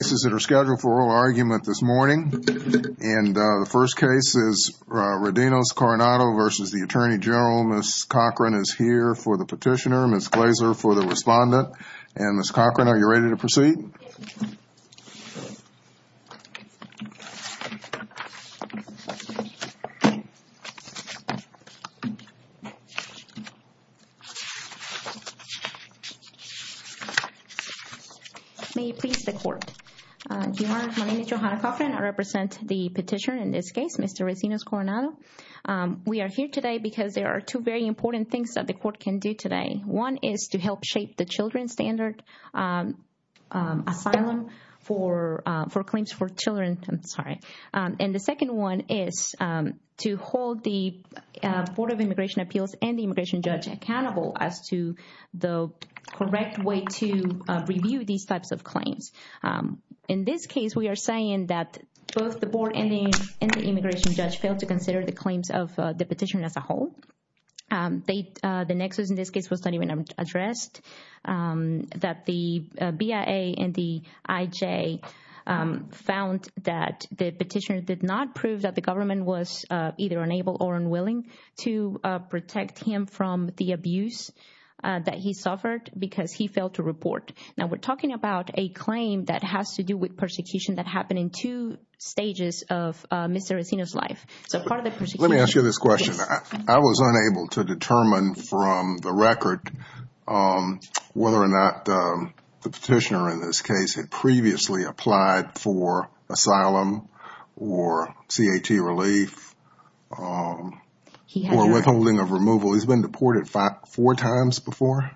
Ms. Cochran is here for the petitioner. Ms. Glaser for the respondent. And Ms. Cochran are you ready to proceed? May you please the court. My name is Johanna Cochran. I represent the petitioner in this case, Mr. Recinos-Coronado. We are here today because there are two very important things that the court can do today. One is to help shape the children's standard asylum for claims for children. I'm sorry. And the second one is to hold the Board of Immigration Appeals and the immigration judge accountable as to the correct way to review these types of claims. In this case, we are saying that both the board and the immigration judge failed to consider the claims of the petitioner as a whole. The nexus in this case was not even addressed. That the BIA and the IJ found that the petitioner did not prove that the government was either unable or unwilling to protect him from the abuse that he suffered because he failed to report. Now we're talking about a claim that has to do with persecution that happened in two stages of Mr. Recinos' life. So part of the persecution... Let me ask you this question. I was unable to determine from the record whether or not the petitioner in this case had previously applied for asylum or CAT relief or withholding of removal. He's been deported four times before?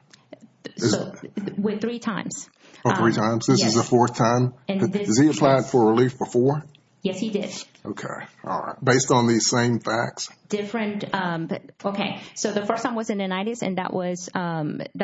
Three times. Oh, three times. This is the fourth time? Yes. Has he applied for relief before? Yes, he did. Okay. All right. Based on these same facts? Different. Okay. So the first time was in the 90s and that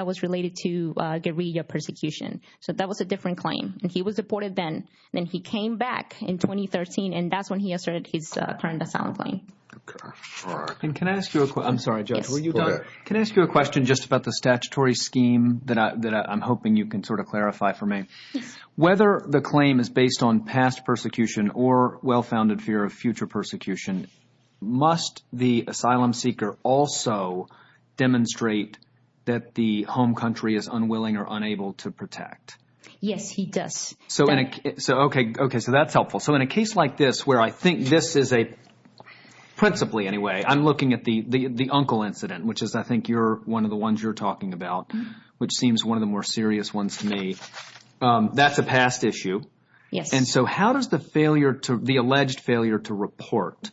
was related to guerrilla persecution. So that was a different claim. And he was deported then. Then he came back in 2013 and that's when he asserted his current asylum claim. Okay. All right. And can I ask you a question? I'm sorry, Judge. Can I ask you a question just about the statutory scheme that I'm hoping you can sort of clarify for me? Yes. Whether the claim is based on past persecution or well-founded fear of future persecution, must the asylum seeker also demonstrate that the home country is unwilling or unable to protect? Yes, he does. Okay. So that's helpful. So in a case like this where I think this is a – principally anyway, I'm looking at the uncle incident, which is I think you're – one of the ones you're talking about, which seems one of the more serious ones to me. That's a past issue. Yes. And so how does the failure to – the alleged failure to report,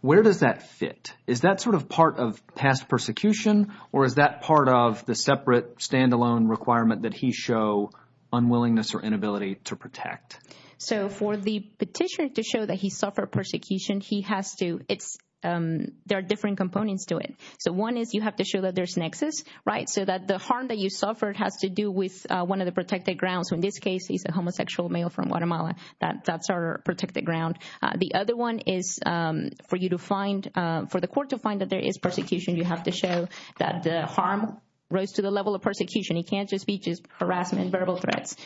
where does that fit? Is that sort of part of past persecution or is that part of the separate standalone requirement that he show unwillingness or inability to protect? So for the petitioner to show that he suffered persecution, he has to – it's – there are different components to it. So one is you have to show that there's nexus, right, so that the harm that you suffered has to do with one of the protected grounds. So in this case, he's a homosexual male from Guatemala. That's our protected ground. The other one is for you to find – for the court to find that there is persecution, you have to show that the harm rose to the level of persecution. It can't just be just harassment, verbal threats.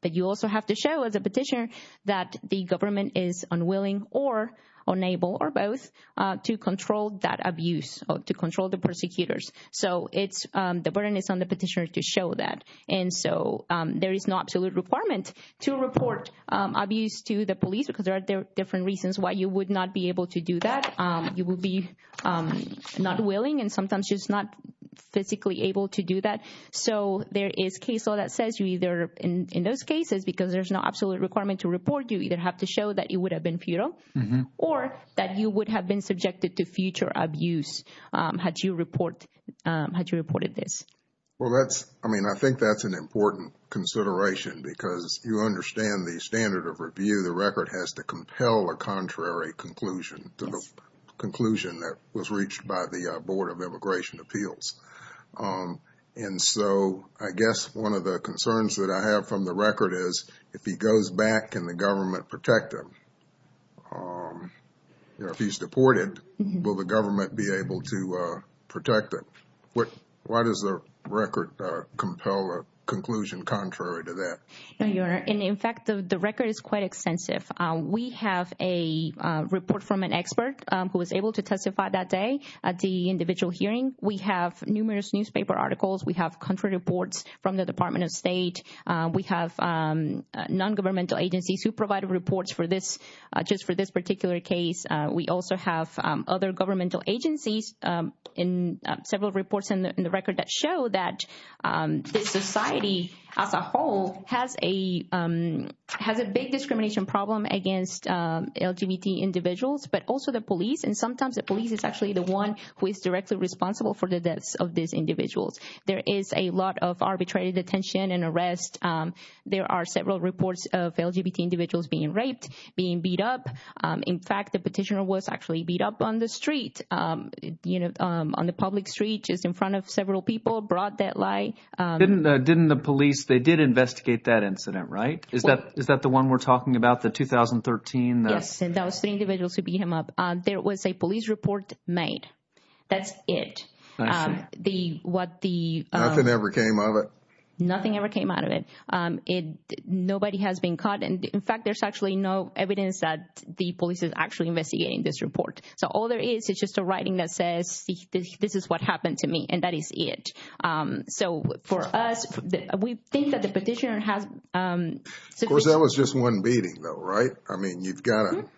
But you also have to show as a petitioner that the government is unwilling or unable or both to control that abuse or to control the persecutors. So it's – the burden is on the petitioner to show that. And so there is no absolute requirement to report abuse to the police because there are different reasons why you would not be able to do that. You would be not willing and sometimes just not physically able to do that. So there is case law that says you either – in those cases, because there's no absolute requirement to report, you either have to show that you would have been futile or that you would have been subjected to future abuse had you report – had you reported this. Well, that's – I mean, I think that's an important consideration because you understand the standard of review. The record has to compel a contrary conclusion to the conclusion that was reached by the Board of Immigration Appeals. And so I guess one of the concerns that I have from the record is if he goes back, can the government protect him? If he's deported, will the government be able to protect him? Why does the record compel a conclusion contrary to that? Your Honor, in fact, the record is quite extensive. We have a report from an expert who was able to testify that day at the individual hearing. We have numerous newspaper articles. We have country reports from the Department of State. We have non-governmental agencies who provided reports for this – just for this particular case. We also have other governmental agencies in several reports in the record that show that this society as a whole has a – has a big discrimination problem against LGBT individuals, but also the police. And sometimes the police is actually the one who is directly responsible for the deaths of these individuals. There is a lot of arbitrary detention and arrest. There are several reports of LGBT individuals being raped, being beat up. In fact, the petitioner was actually beat up on the street, you know, on the public street just in front of several people, brought that lie. Didn't the police – they did investigate that incident, right? Is that the one we're talking about, the 2013? Yes, and that was three individuals who beat him up. There was a police report made. That's it. I see. The – what the – Nothing ever came of it. Nothing ever came out of it. Nobody has been caught. In fact, there's actually no evidence that the police is actually investigating this report. So all there is is just a writing that says, this is what happened to me, and that is it. So for us, we think that the petitioner has – Of course, that was just one beating, though, right? I mean, you've got to –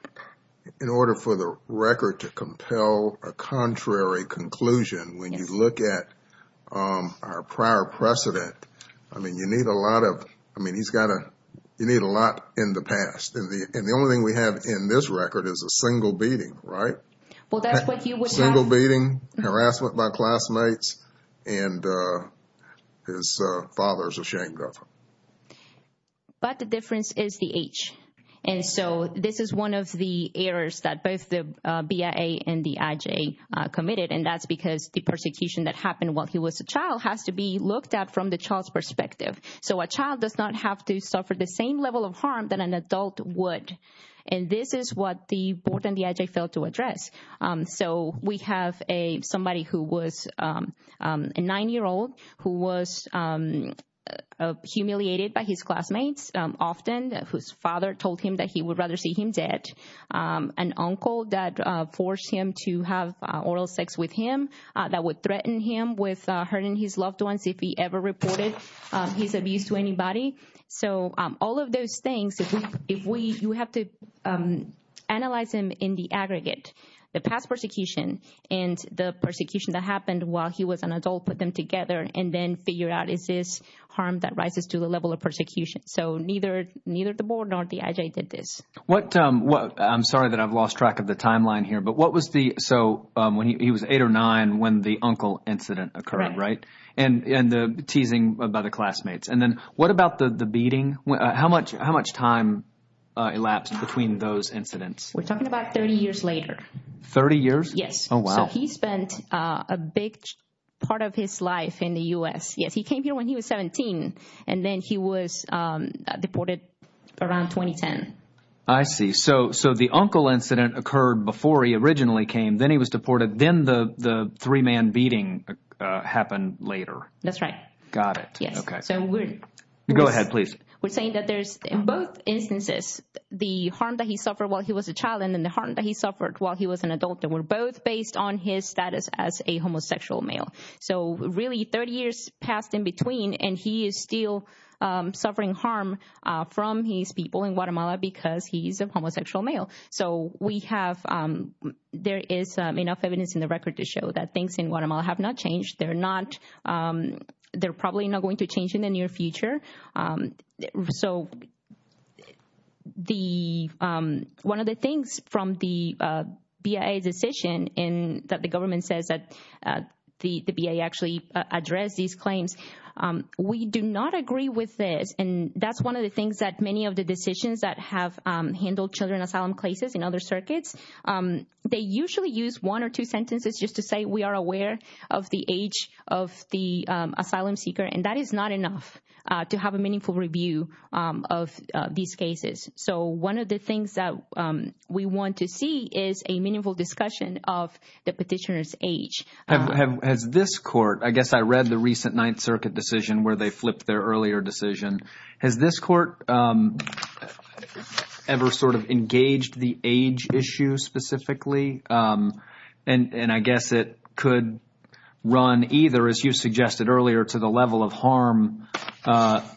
in order for the record to compel a contrary conclusion, when you look at our prior precedent, I mean, you need a lot of evidence. You need a lot in the past. And the only thing we have in this record is a single beating, right? Well, that's what you would have – Single beating, harassment by classmates, and his father is ashamed of him. But the difference is the age. And so this is one of the errors that both the BIA and the IJ committed, and that's because the persecution that happened while he was a child has to be looked at from the child's perspective. So a child does not have to suffer the same level of harm that an adult would. And this is what the board and the IJ failed to address. So we have somebody who was a 9-year-old who was humiliated by his classmates often, whose father told him that he would rather see him dead, an uncle that forced him to have oral sex with him, that would threaten him with hurting his loved ones if he ever reported his abuse to anybody. So all of those things, if we – you have to analyze them in the aggregate. The past persecution and the persecution that happened while he was an adult put them together and then figured out is this harm that rises to the level of persecution. So neither the board nor the IJ did this. What – I'm sorry that I've lost track of the timeline here, but what was the – so he was 8 or 9 when the uncle incident occurred, right? Right. And the teasing by the classmates. And then what about the beating? How much time elapsed between those incidents? We're talking about 30 years later. Thirty years? Yes. Oh, wow. So he spent a big part of his life in the U.S. Yes, he came here when he was 17, and then he was deported around 2010. I see. So the uncle incident occurred before he originally came. Then he was deported. Then the three-man beating happened later. That's right. Got it. Yes. Okay. So we're – Go ahead, please. We're saying that there's in both instances the harm that he suffered while he was a child and then the harm that he suffered while he was an adult that were both based on his status as a homosexual male. So really 30 years passed in between, and he is still suffering harm from his people in Guatemala because he's a homosexual male. So we have – there is enough evidence in the record to show that things in Guatemala have not changed. They're not – they're probably not going to change in the near future. So the – one of the things from the BIA decision in – that the government says that the BIA actually addressed these claims, we do not agree with this, and that's one of the things that many of the decisions that have handled children asylum cases in other circuits, they usually use one or two sentences just to say we are aware of the age of the asylum seeker, and that is not enough to have a meaningful review of these cases. So one of the things that we want to see is a meaningful discussion of the petitioner's age. Has this court – I guess I read the recent Ninth Circuit decision where they flipped their earlier decision. Has this court ever sort of engaged the age issue specifically? And I guess it could run either, as you suggested earlier, to the level of harm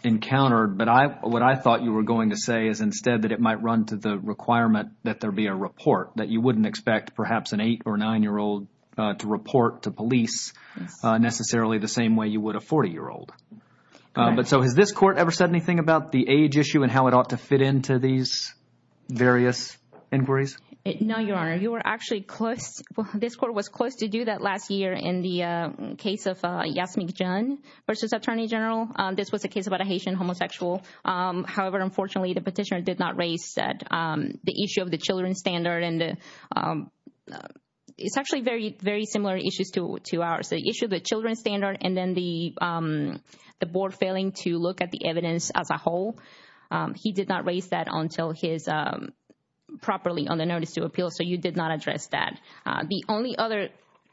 encountered, but what I thought you were going to say is instead that it might run to the requirement that there be a report, that you wouldn't expect perhaps an eight- or nine-year-old to report to police necessarily the same way you would a 40-year-old. But so has this court ever said anything about the age issue and how it ought to fit into these various inquiries? No, Your Honor. You were actually close. This court was close to do that last year in the case of Yasmik Jhun versus Attorney General. This was a case about a Haitian homosexual. However, unfortunately, the petitioner did not raise the issue of the children's standard, and it's actually very similar issues to ours. The issue of the children's standard and then the board failing to look at the evidence as a whole, he did not raise that properly on the notice to appeal, so you did not address that. The only other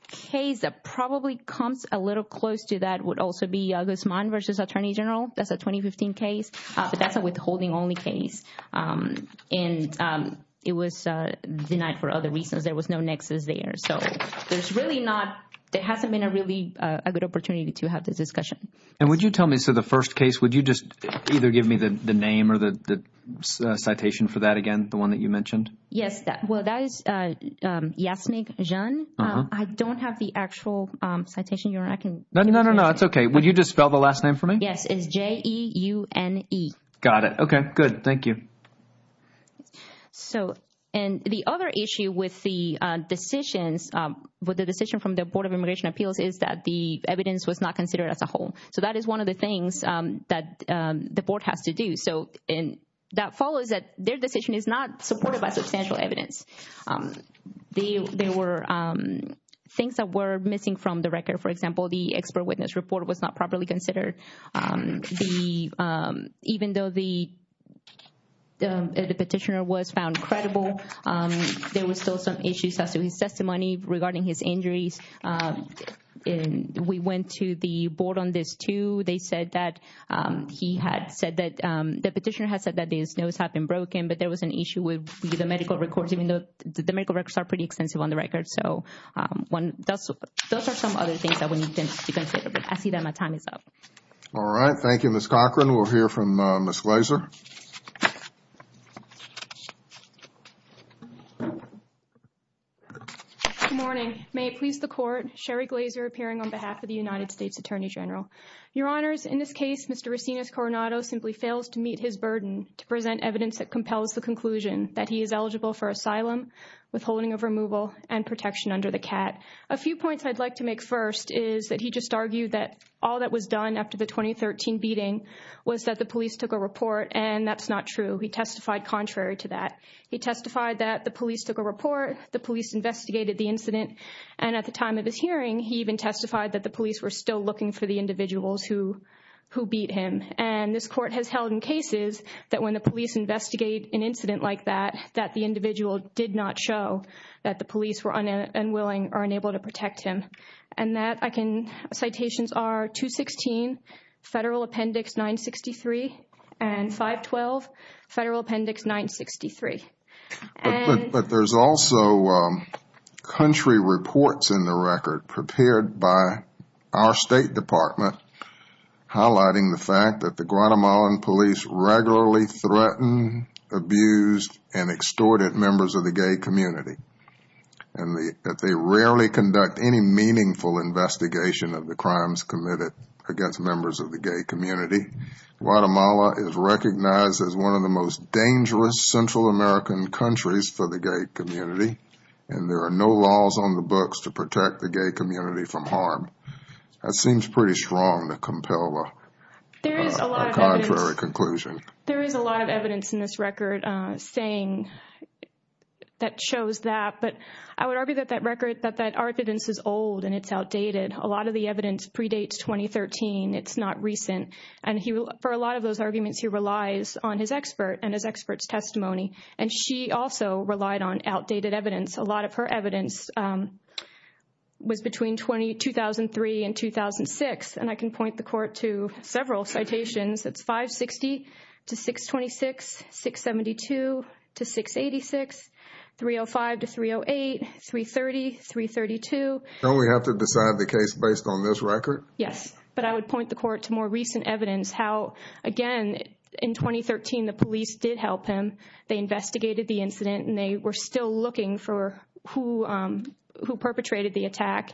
case that probably comes a little close to that would also be August Mon versus Attorney General. That's a 2015 case, but that's a withholding-only case, and it was denied for other reasons. There was no nexus there. So there hasn't been a really good opportunity to have this discussion. And would you tell me, so the first case, would you just either give me the name or the citation for that again, the one that you mentioned? Yes. Well, that is Yasmik Jhun. I don't have the actual citation, Your Honor. No, no, no. That's okay. Would you just spell the last name for me? Yes. It's J-E-U-N-E. Got it. Okay, good. Thank you. So, and the other issue with the decisions, with the decision from the Board of Immigration Appeals is that the evidence was not considered as a whole. So that is one of the things that the board has to do. So, and that follows that their decision is not supported by substantial evidence. There were things that were missing from the record. For example, the expert witness report was not properly considered. Even though the petitioner was found credible, there were still some issues as to his testimony regarding his injuries. We went to the board on this too. They said that he had said that, the petitioner had said that his nose had been broken, but there was an issue with the medical records, even though the medical records are pretty extensive on the record. So, those are some other things that we need to consider. I see that my time is up. All right. Thank you, Ms. Cochran. We'll hear from Ms. Glazer. Good morning. May it please the Court, Sherry Glazer appearing on behalf of the United States Attorney General. Your Honors, in this case, Mr. Racines Coronado simply fails to meet his burden to present evidence that compels the conclusion that he is eligible for asylum, withholding of removal, and protection under the CAT. A few points I'd like to make first is that he just argued that all that was done after the 2013 beating was that the police took a report, and that's not true. He testified contrary to that. He testified that the police took a report, the police investigated the incident, and at the time of his hearing, he even testified that the police were still looking for the individuals who beat him. And this Court has held in cases that when the police investigate an incident like that, that the individual did not show that the police were unwilling or unable to protect him. And that I can, citations are 216 Federal Appendix 963 and 512 Federal Appendix 963. But there's also country reports in the record prepared by our State Department highlighting the fact that the Guatemalan police regularly threaten, abuse, and extort members of the gay community. And that they rarely conduct any meaningful investigation of the crimes committed against members of the gay community. Guatemala is recognized as one of the most dangerous Central American countries for the gay community. And there are no laws on the books to protect the gay community from harm. That seems pretty strong to compel a contrary conclusion. There is a lot of evidence in this record saying that shows that. But I would argue that that record, that that evidence is old and it's outdated. A lot of the evidence predates 2013. It's not recent. And for a lot of those arguments, he relies on his expert and his expert's testimony. And she also relied on outdated evidence. A lot of her evidence was between 2003 and 2006. And I can point the court to several citations. It's 560 to 626, 672 to 686, 305 to 308, 330, 332. Don't we have to decide the case based on this record? Yes. But I would point the court to more recent evidence how, again, in 2013 the police did help him. They investigated the incident and they were still looking for who perpetrated the attack.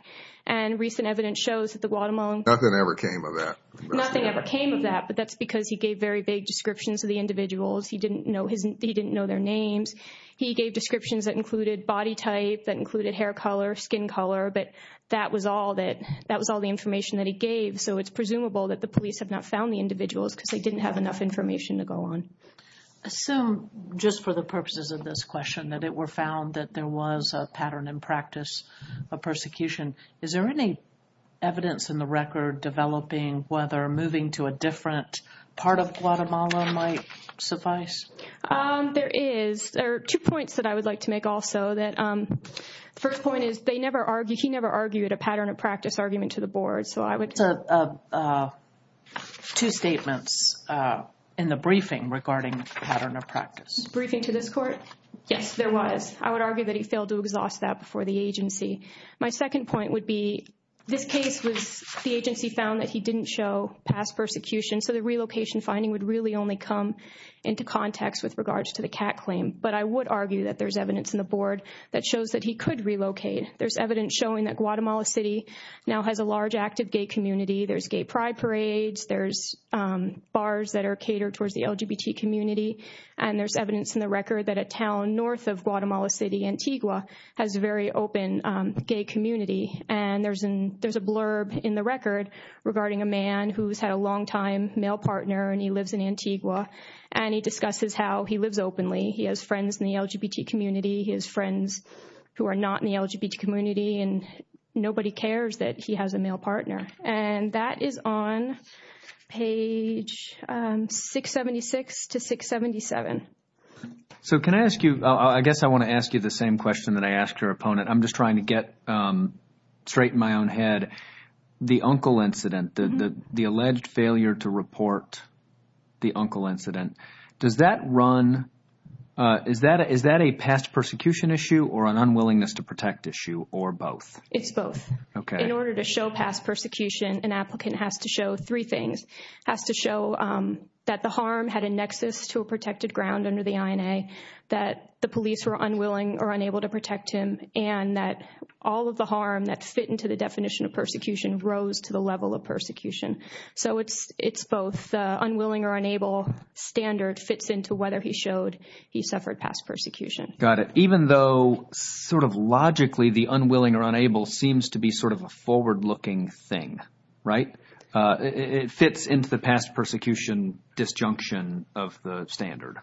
And recent evidence shows that the Guatemalan. Nothing ever came of that. Nothing ever came of that. But that's because he gave very vague descriptions of the individuals. He didn't know their names. He gave descriptions that included body type, that included hair color, skin color. But that was all the information that he gave. So it's presumable that the police have not found the individuals because they didn't have enough information to go on. I assume just for the purposes of this question that it were found that there was a pattern in practice of persecution. Is there any evidence in the record developing whether moving to a different part of Guatemala might suffice? There is. There are two points that I would like to make also. The first point is they never argued, he never argued a pattern of practice argument to the board. Two statements in the briefing regarding pattern of practice. Briefing to this court? Yes, there was. I would argue that he failed to exhaust that before the agency. My second point would be this case was the agency found that he didn't show past persecution. So the relocation finding would really only come into context with regards to the CAT claim. But I would argue that there's evidence in the board that shows that he could relocate. There's evidence showing that Guatemala City now has a large active gay community. There's gay pride parades. There's bars that are catered towards the LGBT community. And there's evidence in the record that a town north of Guatemala City, Antigua, has a very open gay community. And there's a blurb in the record regarding a man who's had a longtime male partner and he lives in Antigua. And he discusses how he lives openly. He has friends in the LGBT community. He has friends who are not in the LGBT community. And nobody cares that he has a male partner. And that is on page 676 to 677. So can I ask you, I guess I want to ask you the same question that I asked your opponent. I'm just trying to get straight in my own head. The uncle incident, the alleged failure to report the uncle incident, does that run, is that a past persecution issue or an unwillingness to protect issue or both? It's both. In order to show past persecution, an applicant has to show three things. Has to show that the harm had a nexus to a protected ground under the INA, that the police were unwilling or unable to protect him, and that all of the harm that fit into the definition of persecution rose to the level of persecution. So it's both unwilling or unable standard fits into whether he showed he suffered past persecution. Got it. Even though sort of logically the unwilling or unable seems to be sort of a forward-looking thing, right? It fits into the past persecution disjunction of the standard.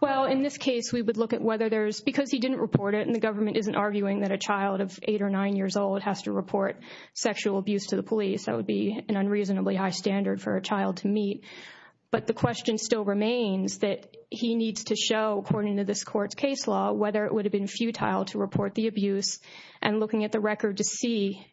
Well, in this case, we would look at whether there's, because he didn't report it and the government isn't arguing that a child of eight or nine years old has to report sexual abuse to the police, that would be an unreasonably high standard for a child to meet. But the question still remains that he needs to show, according to this court's case law, whether it would have been futile to report the abuse, and looking at the record to see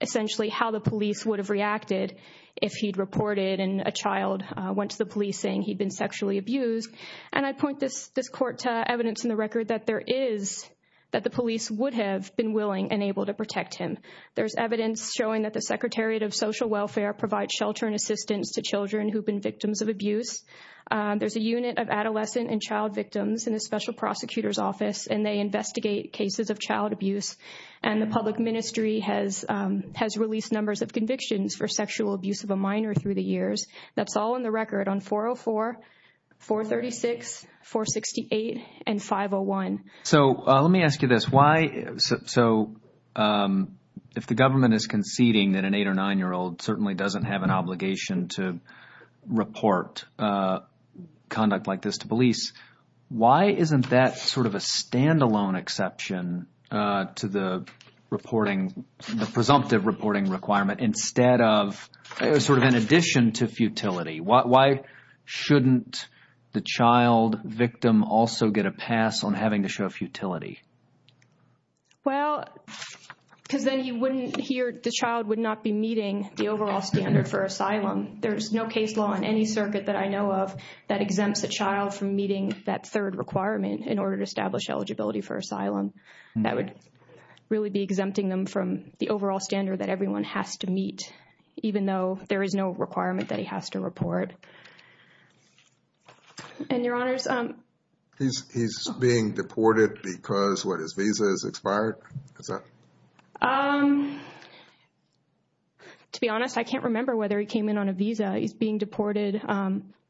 essentially how the police would have reacted if he'd reported and a child went to the police saying he'd been sexually abused. And I point this court to evidence in the record that there is, that the police would have been willing and able to protect him. There's evidence showing that the Secretariat of Social Welfare provides shelter and assistance to children who've been victims of abuse. There's a unit of adolescent and child victims in the special prosecutor's office, and they investigate cases of child abuse. And the public ministry has released numbers of convictions for sexual abuse of a minor through the years. That's all in the record on 404, 436, 468, and 501. So let me ask you this. So if the government is conceding that an eight- or nine-year-old certainly doesn't have an obligation to report conduct like this to police, why isn't that sort of a standalone exception to the reporting, the presumptive reporting requirement instead of sort of in addition to futility? Why shouldn't the child victim also get a pass on having to show futility? Well, because then he wouldn't hear, the child would not be meeting the overall standard for asylum. There's no case law in any circuit that I know of that exempts a child from meeting that third requirement in order to establish eligibility for asylum. That would really be exempting them from the overall standard that everyone has to meet, even though there is no requirement that he has to report. And, Your Honors, He's being deported because, what, his visa has expired? To be honest, I can't remember whether he came in on a visa. He's being deported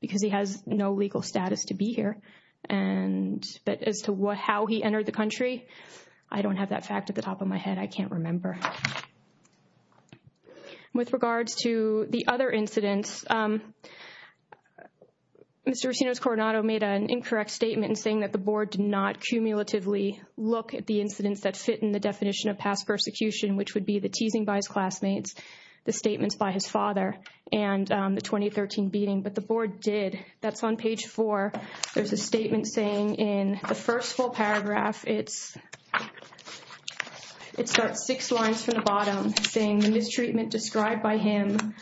because he has no legal status to be here. But as to how he entered the country, I don't have that fact at the top of my head. I can't remember. With regards to the other incidents, Mr. Racino's Coronado made an incorrect statement in saying that the board did not cumulatively look at the incidents that fit in the definition of past persecution, which would be the teasing by his classmates, the statements by his father, and the 2013 beating. But the board did. That's on page four. There's a statement saying in the first full paragraph, it starts six lines from the bottom, saying, The mistreatment described by him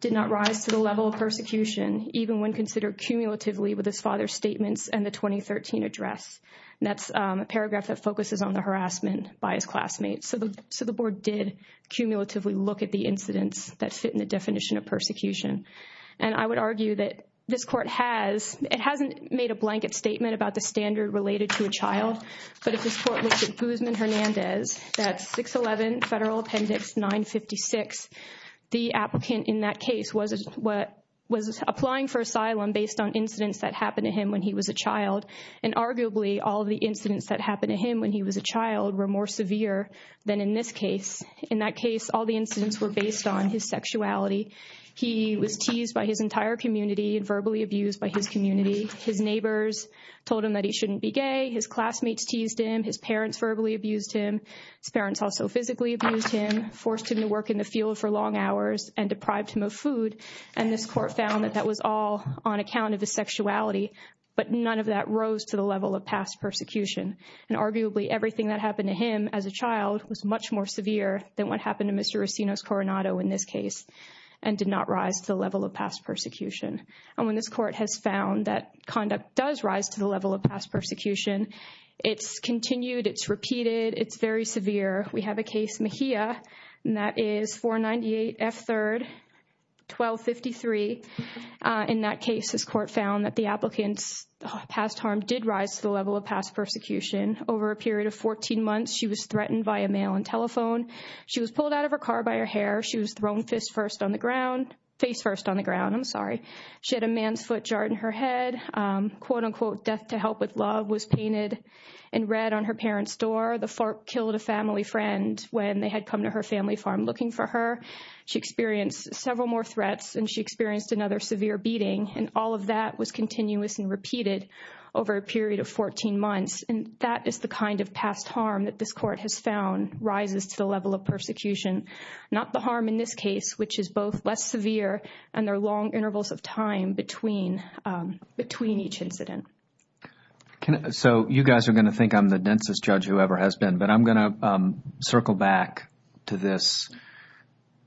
did not rise to the level of persecution, even when considered cumulatively with his father's statements and the 2013 address. And that's a paragraph that focuses on the harassment by his classmates. So the board did cumulatively look at the incidents that fit in the definition of persecution. And I would argue that this court has, it hasn't made a blanket statement about the standard related to a child. But if this court looked at Guzman-Hernandez, that's 611 Federal Appendix 956, the applicant in that case was applying for asylum based on incidents that happened to him when he was a child. And arguably, all of the incidents that happened to him when he was a child were more severe than in this case. In that case, all the incidents were based on his sexuality. He was teased by his entire community and verbally abused by his community. His neighbors told him that he shouldn't be gay. His classmates teased him. His parents verbally abused him. His parents also physically abused him, forced him to work in the field for long hours and deprived him of food. And this court found that that was all on account of his sexuality. But none of that rose to the level of past persecution. And arguably, everything that happened to him as a child was much more severe than what happened to Mr. Racino's Coronado in this case and did not rise to the level of past persecution. And when this court has found that conduct does rise to the level of past persecution, it's continued, it's repeated, it's very severe. We have a case, Mejia, and that is 498 F. 3rd, 1253. In that case, this court found that the applicant's past harm did rise to the level of past persecution. Over a period of 14 months, she was threatened by a mail and telephone. She was pulled out of her car by her hair. She was thrown face first on the ground. She had a man's foot jarred in her head. Quote, unquote, death to help with love was painted in red on her parents' door. The FARP killed a family friend when they had come to her family farm looking for her. She experienced several more threats and she experienced another severe beating. And all of that was continuous and repeated over a period of 14 months. And that is the kind of past harm that this court has found rises to the level of persecution, not the harm in this case, which is both less severe and there are long intervals of time between each incident. So you guys are going to think I'm the densest judge who ever has been. But I'm going to circle back to this,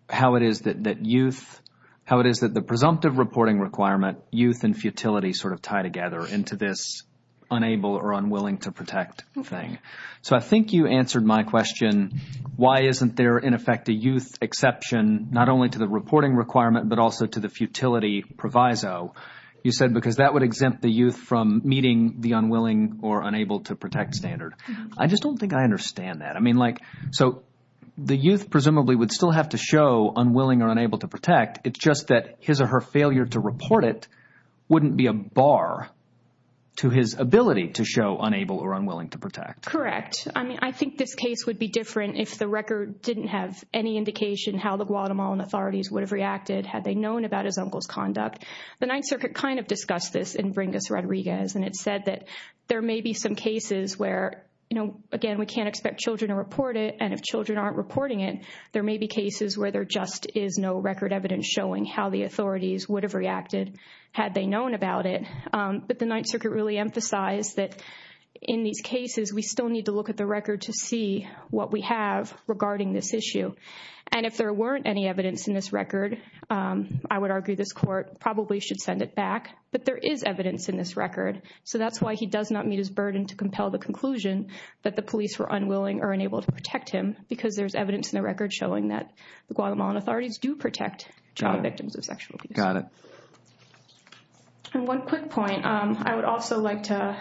how it is that youth, how it is that the presumptive reporting requirement, youth and futility sort of tie together into this unable or unwilling to protect thing. So I think you answered my question, why isn't there, in effect, a youth exception, not only to the reporting requirement but also to the futility proviso? You said because that would exempt the youth from meeting the unwilling or unable to protect standard. I just don't think I understand that. I mean, like, so the youth presumably would still have to show unwilling or unable to protect. It's just that his or her failure to report it wouldn't be a bar to his ability to show unable or unwilling to protect. Correct. I mean, I think this case would be different if the record didn't have any indication how the Guatemalan authorities would have reacted had they known about his uncle's conduct. The Ninth Circuit kind of discussed this in Bringus-Rodriguez, and it said that there may be some cases where, you know, again, we can't expect children to report it, and if children aren't reporting it, there may be cases where there just is no record evidence showing how the authorities would have reacted had they known about it. But the Ninth Circuit really emphasized that in these cases, we still need to look at the record to see what we have regarding this issue. And if there weren't any evidence in this record, I would argue this court probably should send it back, but there is evidence in this record. So that's why he does not meet his burden to compel the conclusion that the police were unwilling or unable to protect him, because there's evidence in the record showing that the Guatemalan authorities do protect child victims of sexual abuse. Got it. And one quick point. I would also like to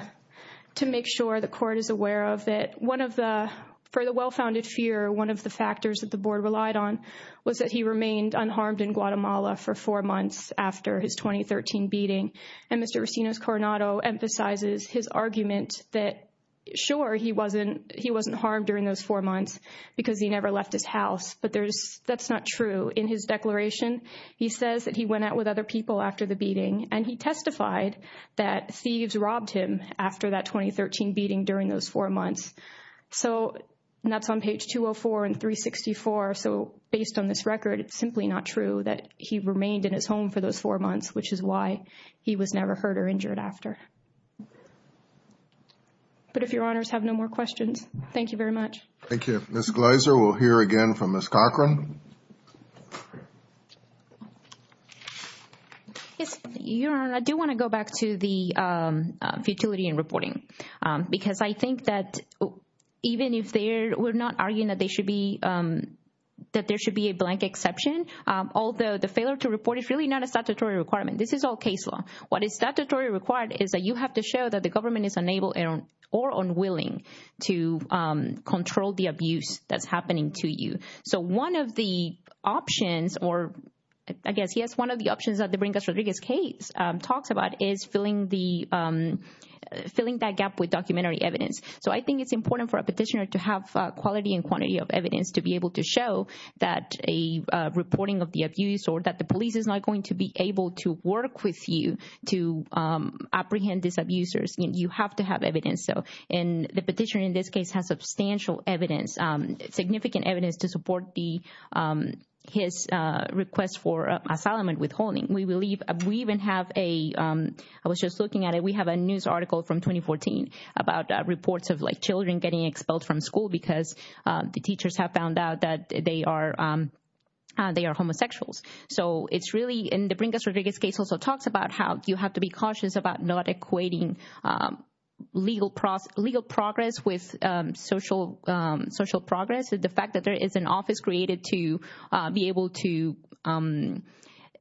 make sure the court is aware of that one of the, for the well-founded fear, one of the factors that the board relied on was that he remained unharmed in Guatemala for four months after his 2013 beating. And Mr. Racino's Coronado emphasizes his argument that, sure, he wasn't harmed during those four months because he never left his house, but that's not true. In his declaration, he says that he went out with other people after the beating, and he testified that thieves robbed him after that 2013 beating during those four months. So that's on page 204 and 364. So based on this record, it's simply not true that he remained in his home for those four months, which is why he was never hurt or injured after. But if your honors have no more questions, thank you very much. Thank you. Ms. Gleiser, we'll hear again from Ms. Cochran. Yes, Your Honor, I do want to go back to the futility in reporting, because I think that even if we're not arguing that there should be a blank exception, although the failure to report is really not a statutory requirement. This is all case law. What is statutorily required is that you have to show that the government is unable or unwilling to control the abuse that's happening to you. So one of the options, or I guess, yes, one of the options that the Brinkus-Rodriguez case talks about is filling that gap with documentary evidence. So I think it's important for a petitioner to have quality and quantity of evidence to be able to show that a reporting of the abuse or that the police is not going to be able to work with you to apprehend these abusers. You have to have evidence. So the petitioner in this case has substantial evidence, significant evidence to support his request for asylum and withholding. We even have a, I was just looking at it, we have a news article from 2014 about reports of children getting expelled from school because the teachers have found out that they are homosexuals. So it's really, and the Brinkus-Rodriguez case also talks about how you have to be cautious about not equating legal progress with social progress. The fact that there is an office created to be able to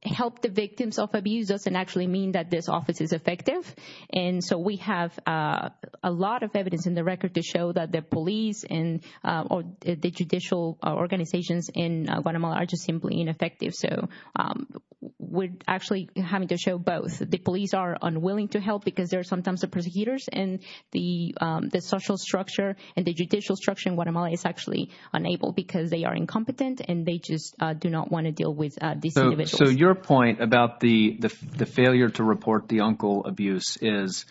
help the victims of abuse doesn't actually mean that this office is effective. And so we have a lot of evidence in the record to show that the police or the judicial organizations in Guatemala are just simply ineffective. So we're actually having to show both. The police are unwilling to help because they're sometimes the prosecutors, and the social structure and the judicial structure in Guatemala is actually unable because they are incompetent and they just do not want to deal with these individuals. So your point about the failure to report the uncle abuse is,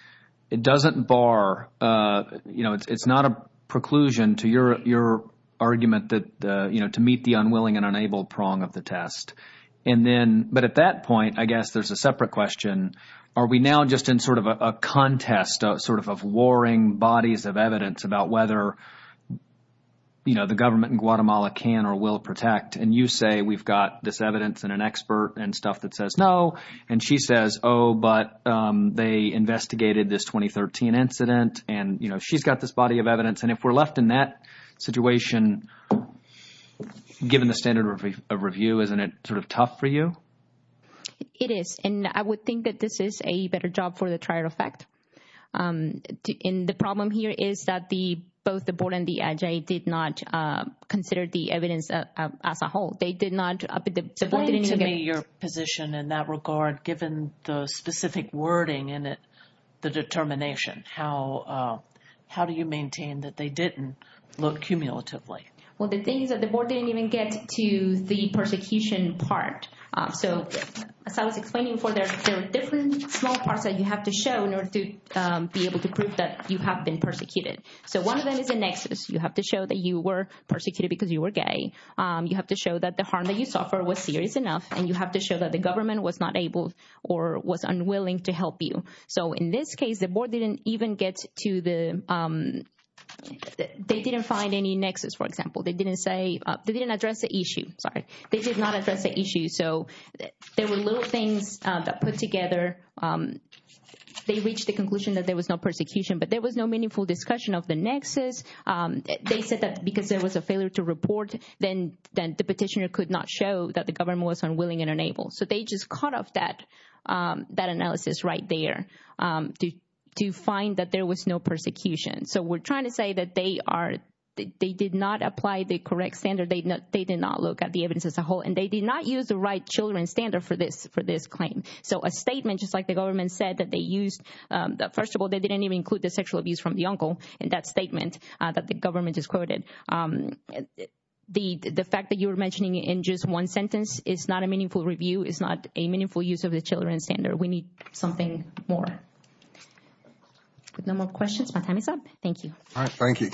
it doesn't bar, it's not a preclusion to your argument to meet the unwilling and unable prong of the test. But at that point, I guess there's a separate question. Are we now just in sort of a contest of warring bodies of evidence about whether the government in Guatemala can or will protect? And you say we've got this evidence and an expert and stuff that says no. And she says, oh, but they investigated this 2013 incident and, you know, she's got this body of evidence. And if we're left in that situation, given the standard of review, isn't it sort of tough for you? It is. And I would think that this is a better job for the trial effect. And the problem here is that both the board and the IJA did not consider the evidence as a whole. They did not— Explain to me your position in that regard, given the specific wording in it, the determination. How do you maintain that they didn't look cumulatively? Well, the thing is that the board didn't even get to the persecution part. So as I was explaining before, there are different small parts that you have to show in order to be able to prove that you have been persecuted. So one of them is a nexus. You have to show that you were persecuted because you were gay. You have to show that the harm that you suffered was serious enough. And you have to show that the government was not able or was unwilling to help you. So in this case, the board didn't even get to the—they didn't find any nexus, for example. They didn't say—they didn't address the issue. Sorry. They did not address the issue. So there were little things put together. They reached the conclusion that there was no persecution, but there was no meaningful discussion of the nexus. They said that because there was a failure to report, then the petitioner could not show that the government was unwilling and unable. So they just cut off that analysis right there to find that there was no persecution. So we're trying to say that they are—they did not apply the correct standard. They did not look at the evidence as a whole, and they did not use the right children's standard for this claim. So a statement, just like the government said that they used—first of all, they didn't even include the sexual abuse from the uncle in that statement that the government just quoted. The fact that you were mentioning it in just one sentence is not a meaningful review. It's not a meaningful use of the children's standard. We need something more. No more questions? My time is up. Thank you. All right. Thank you, counsel.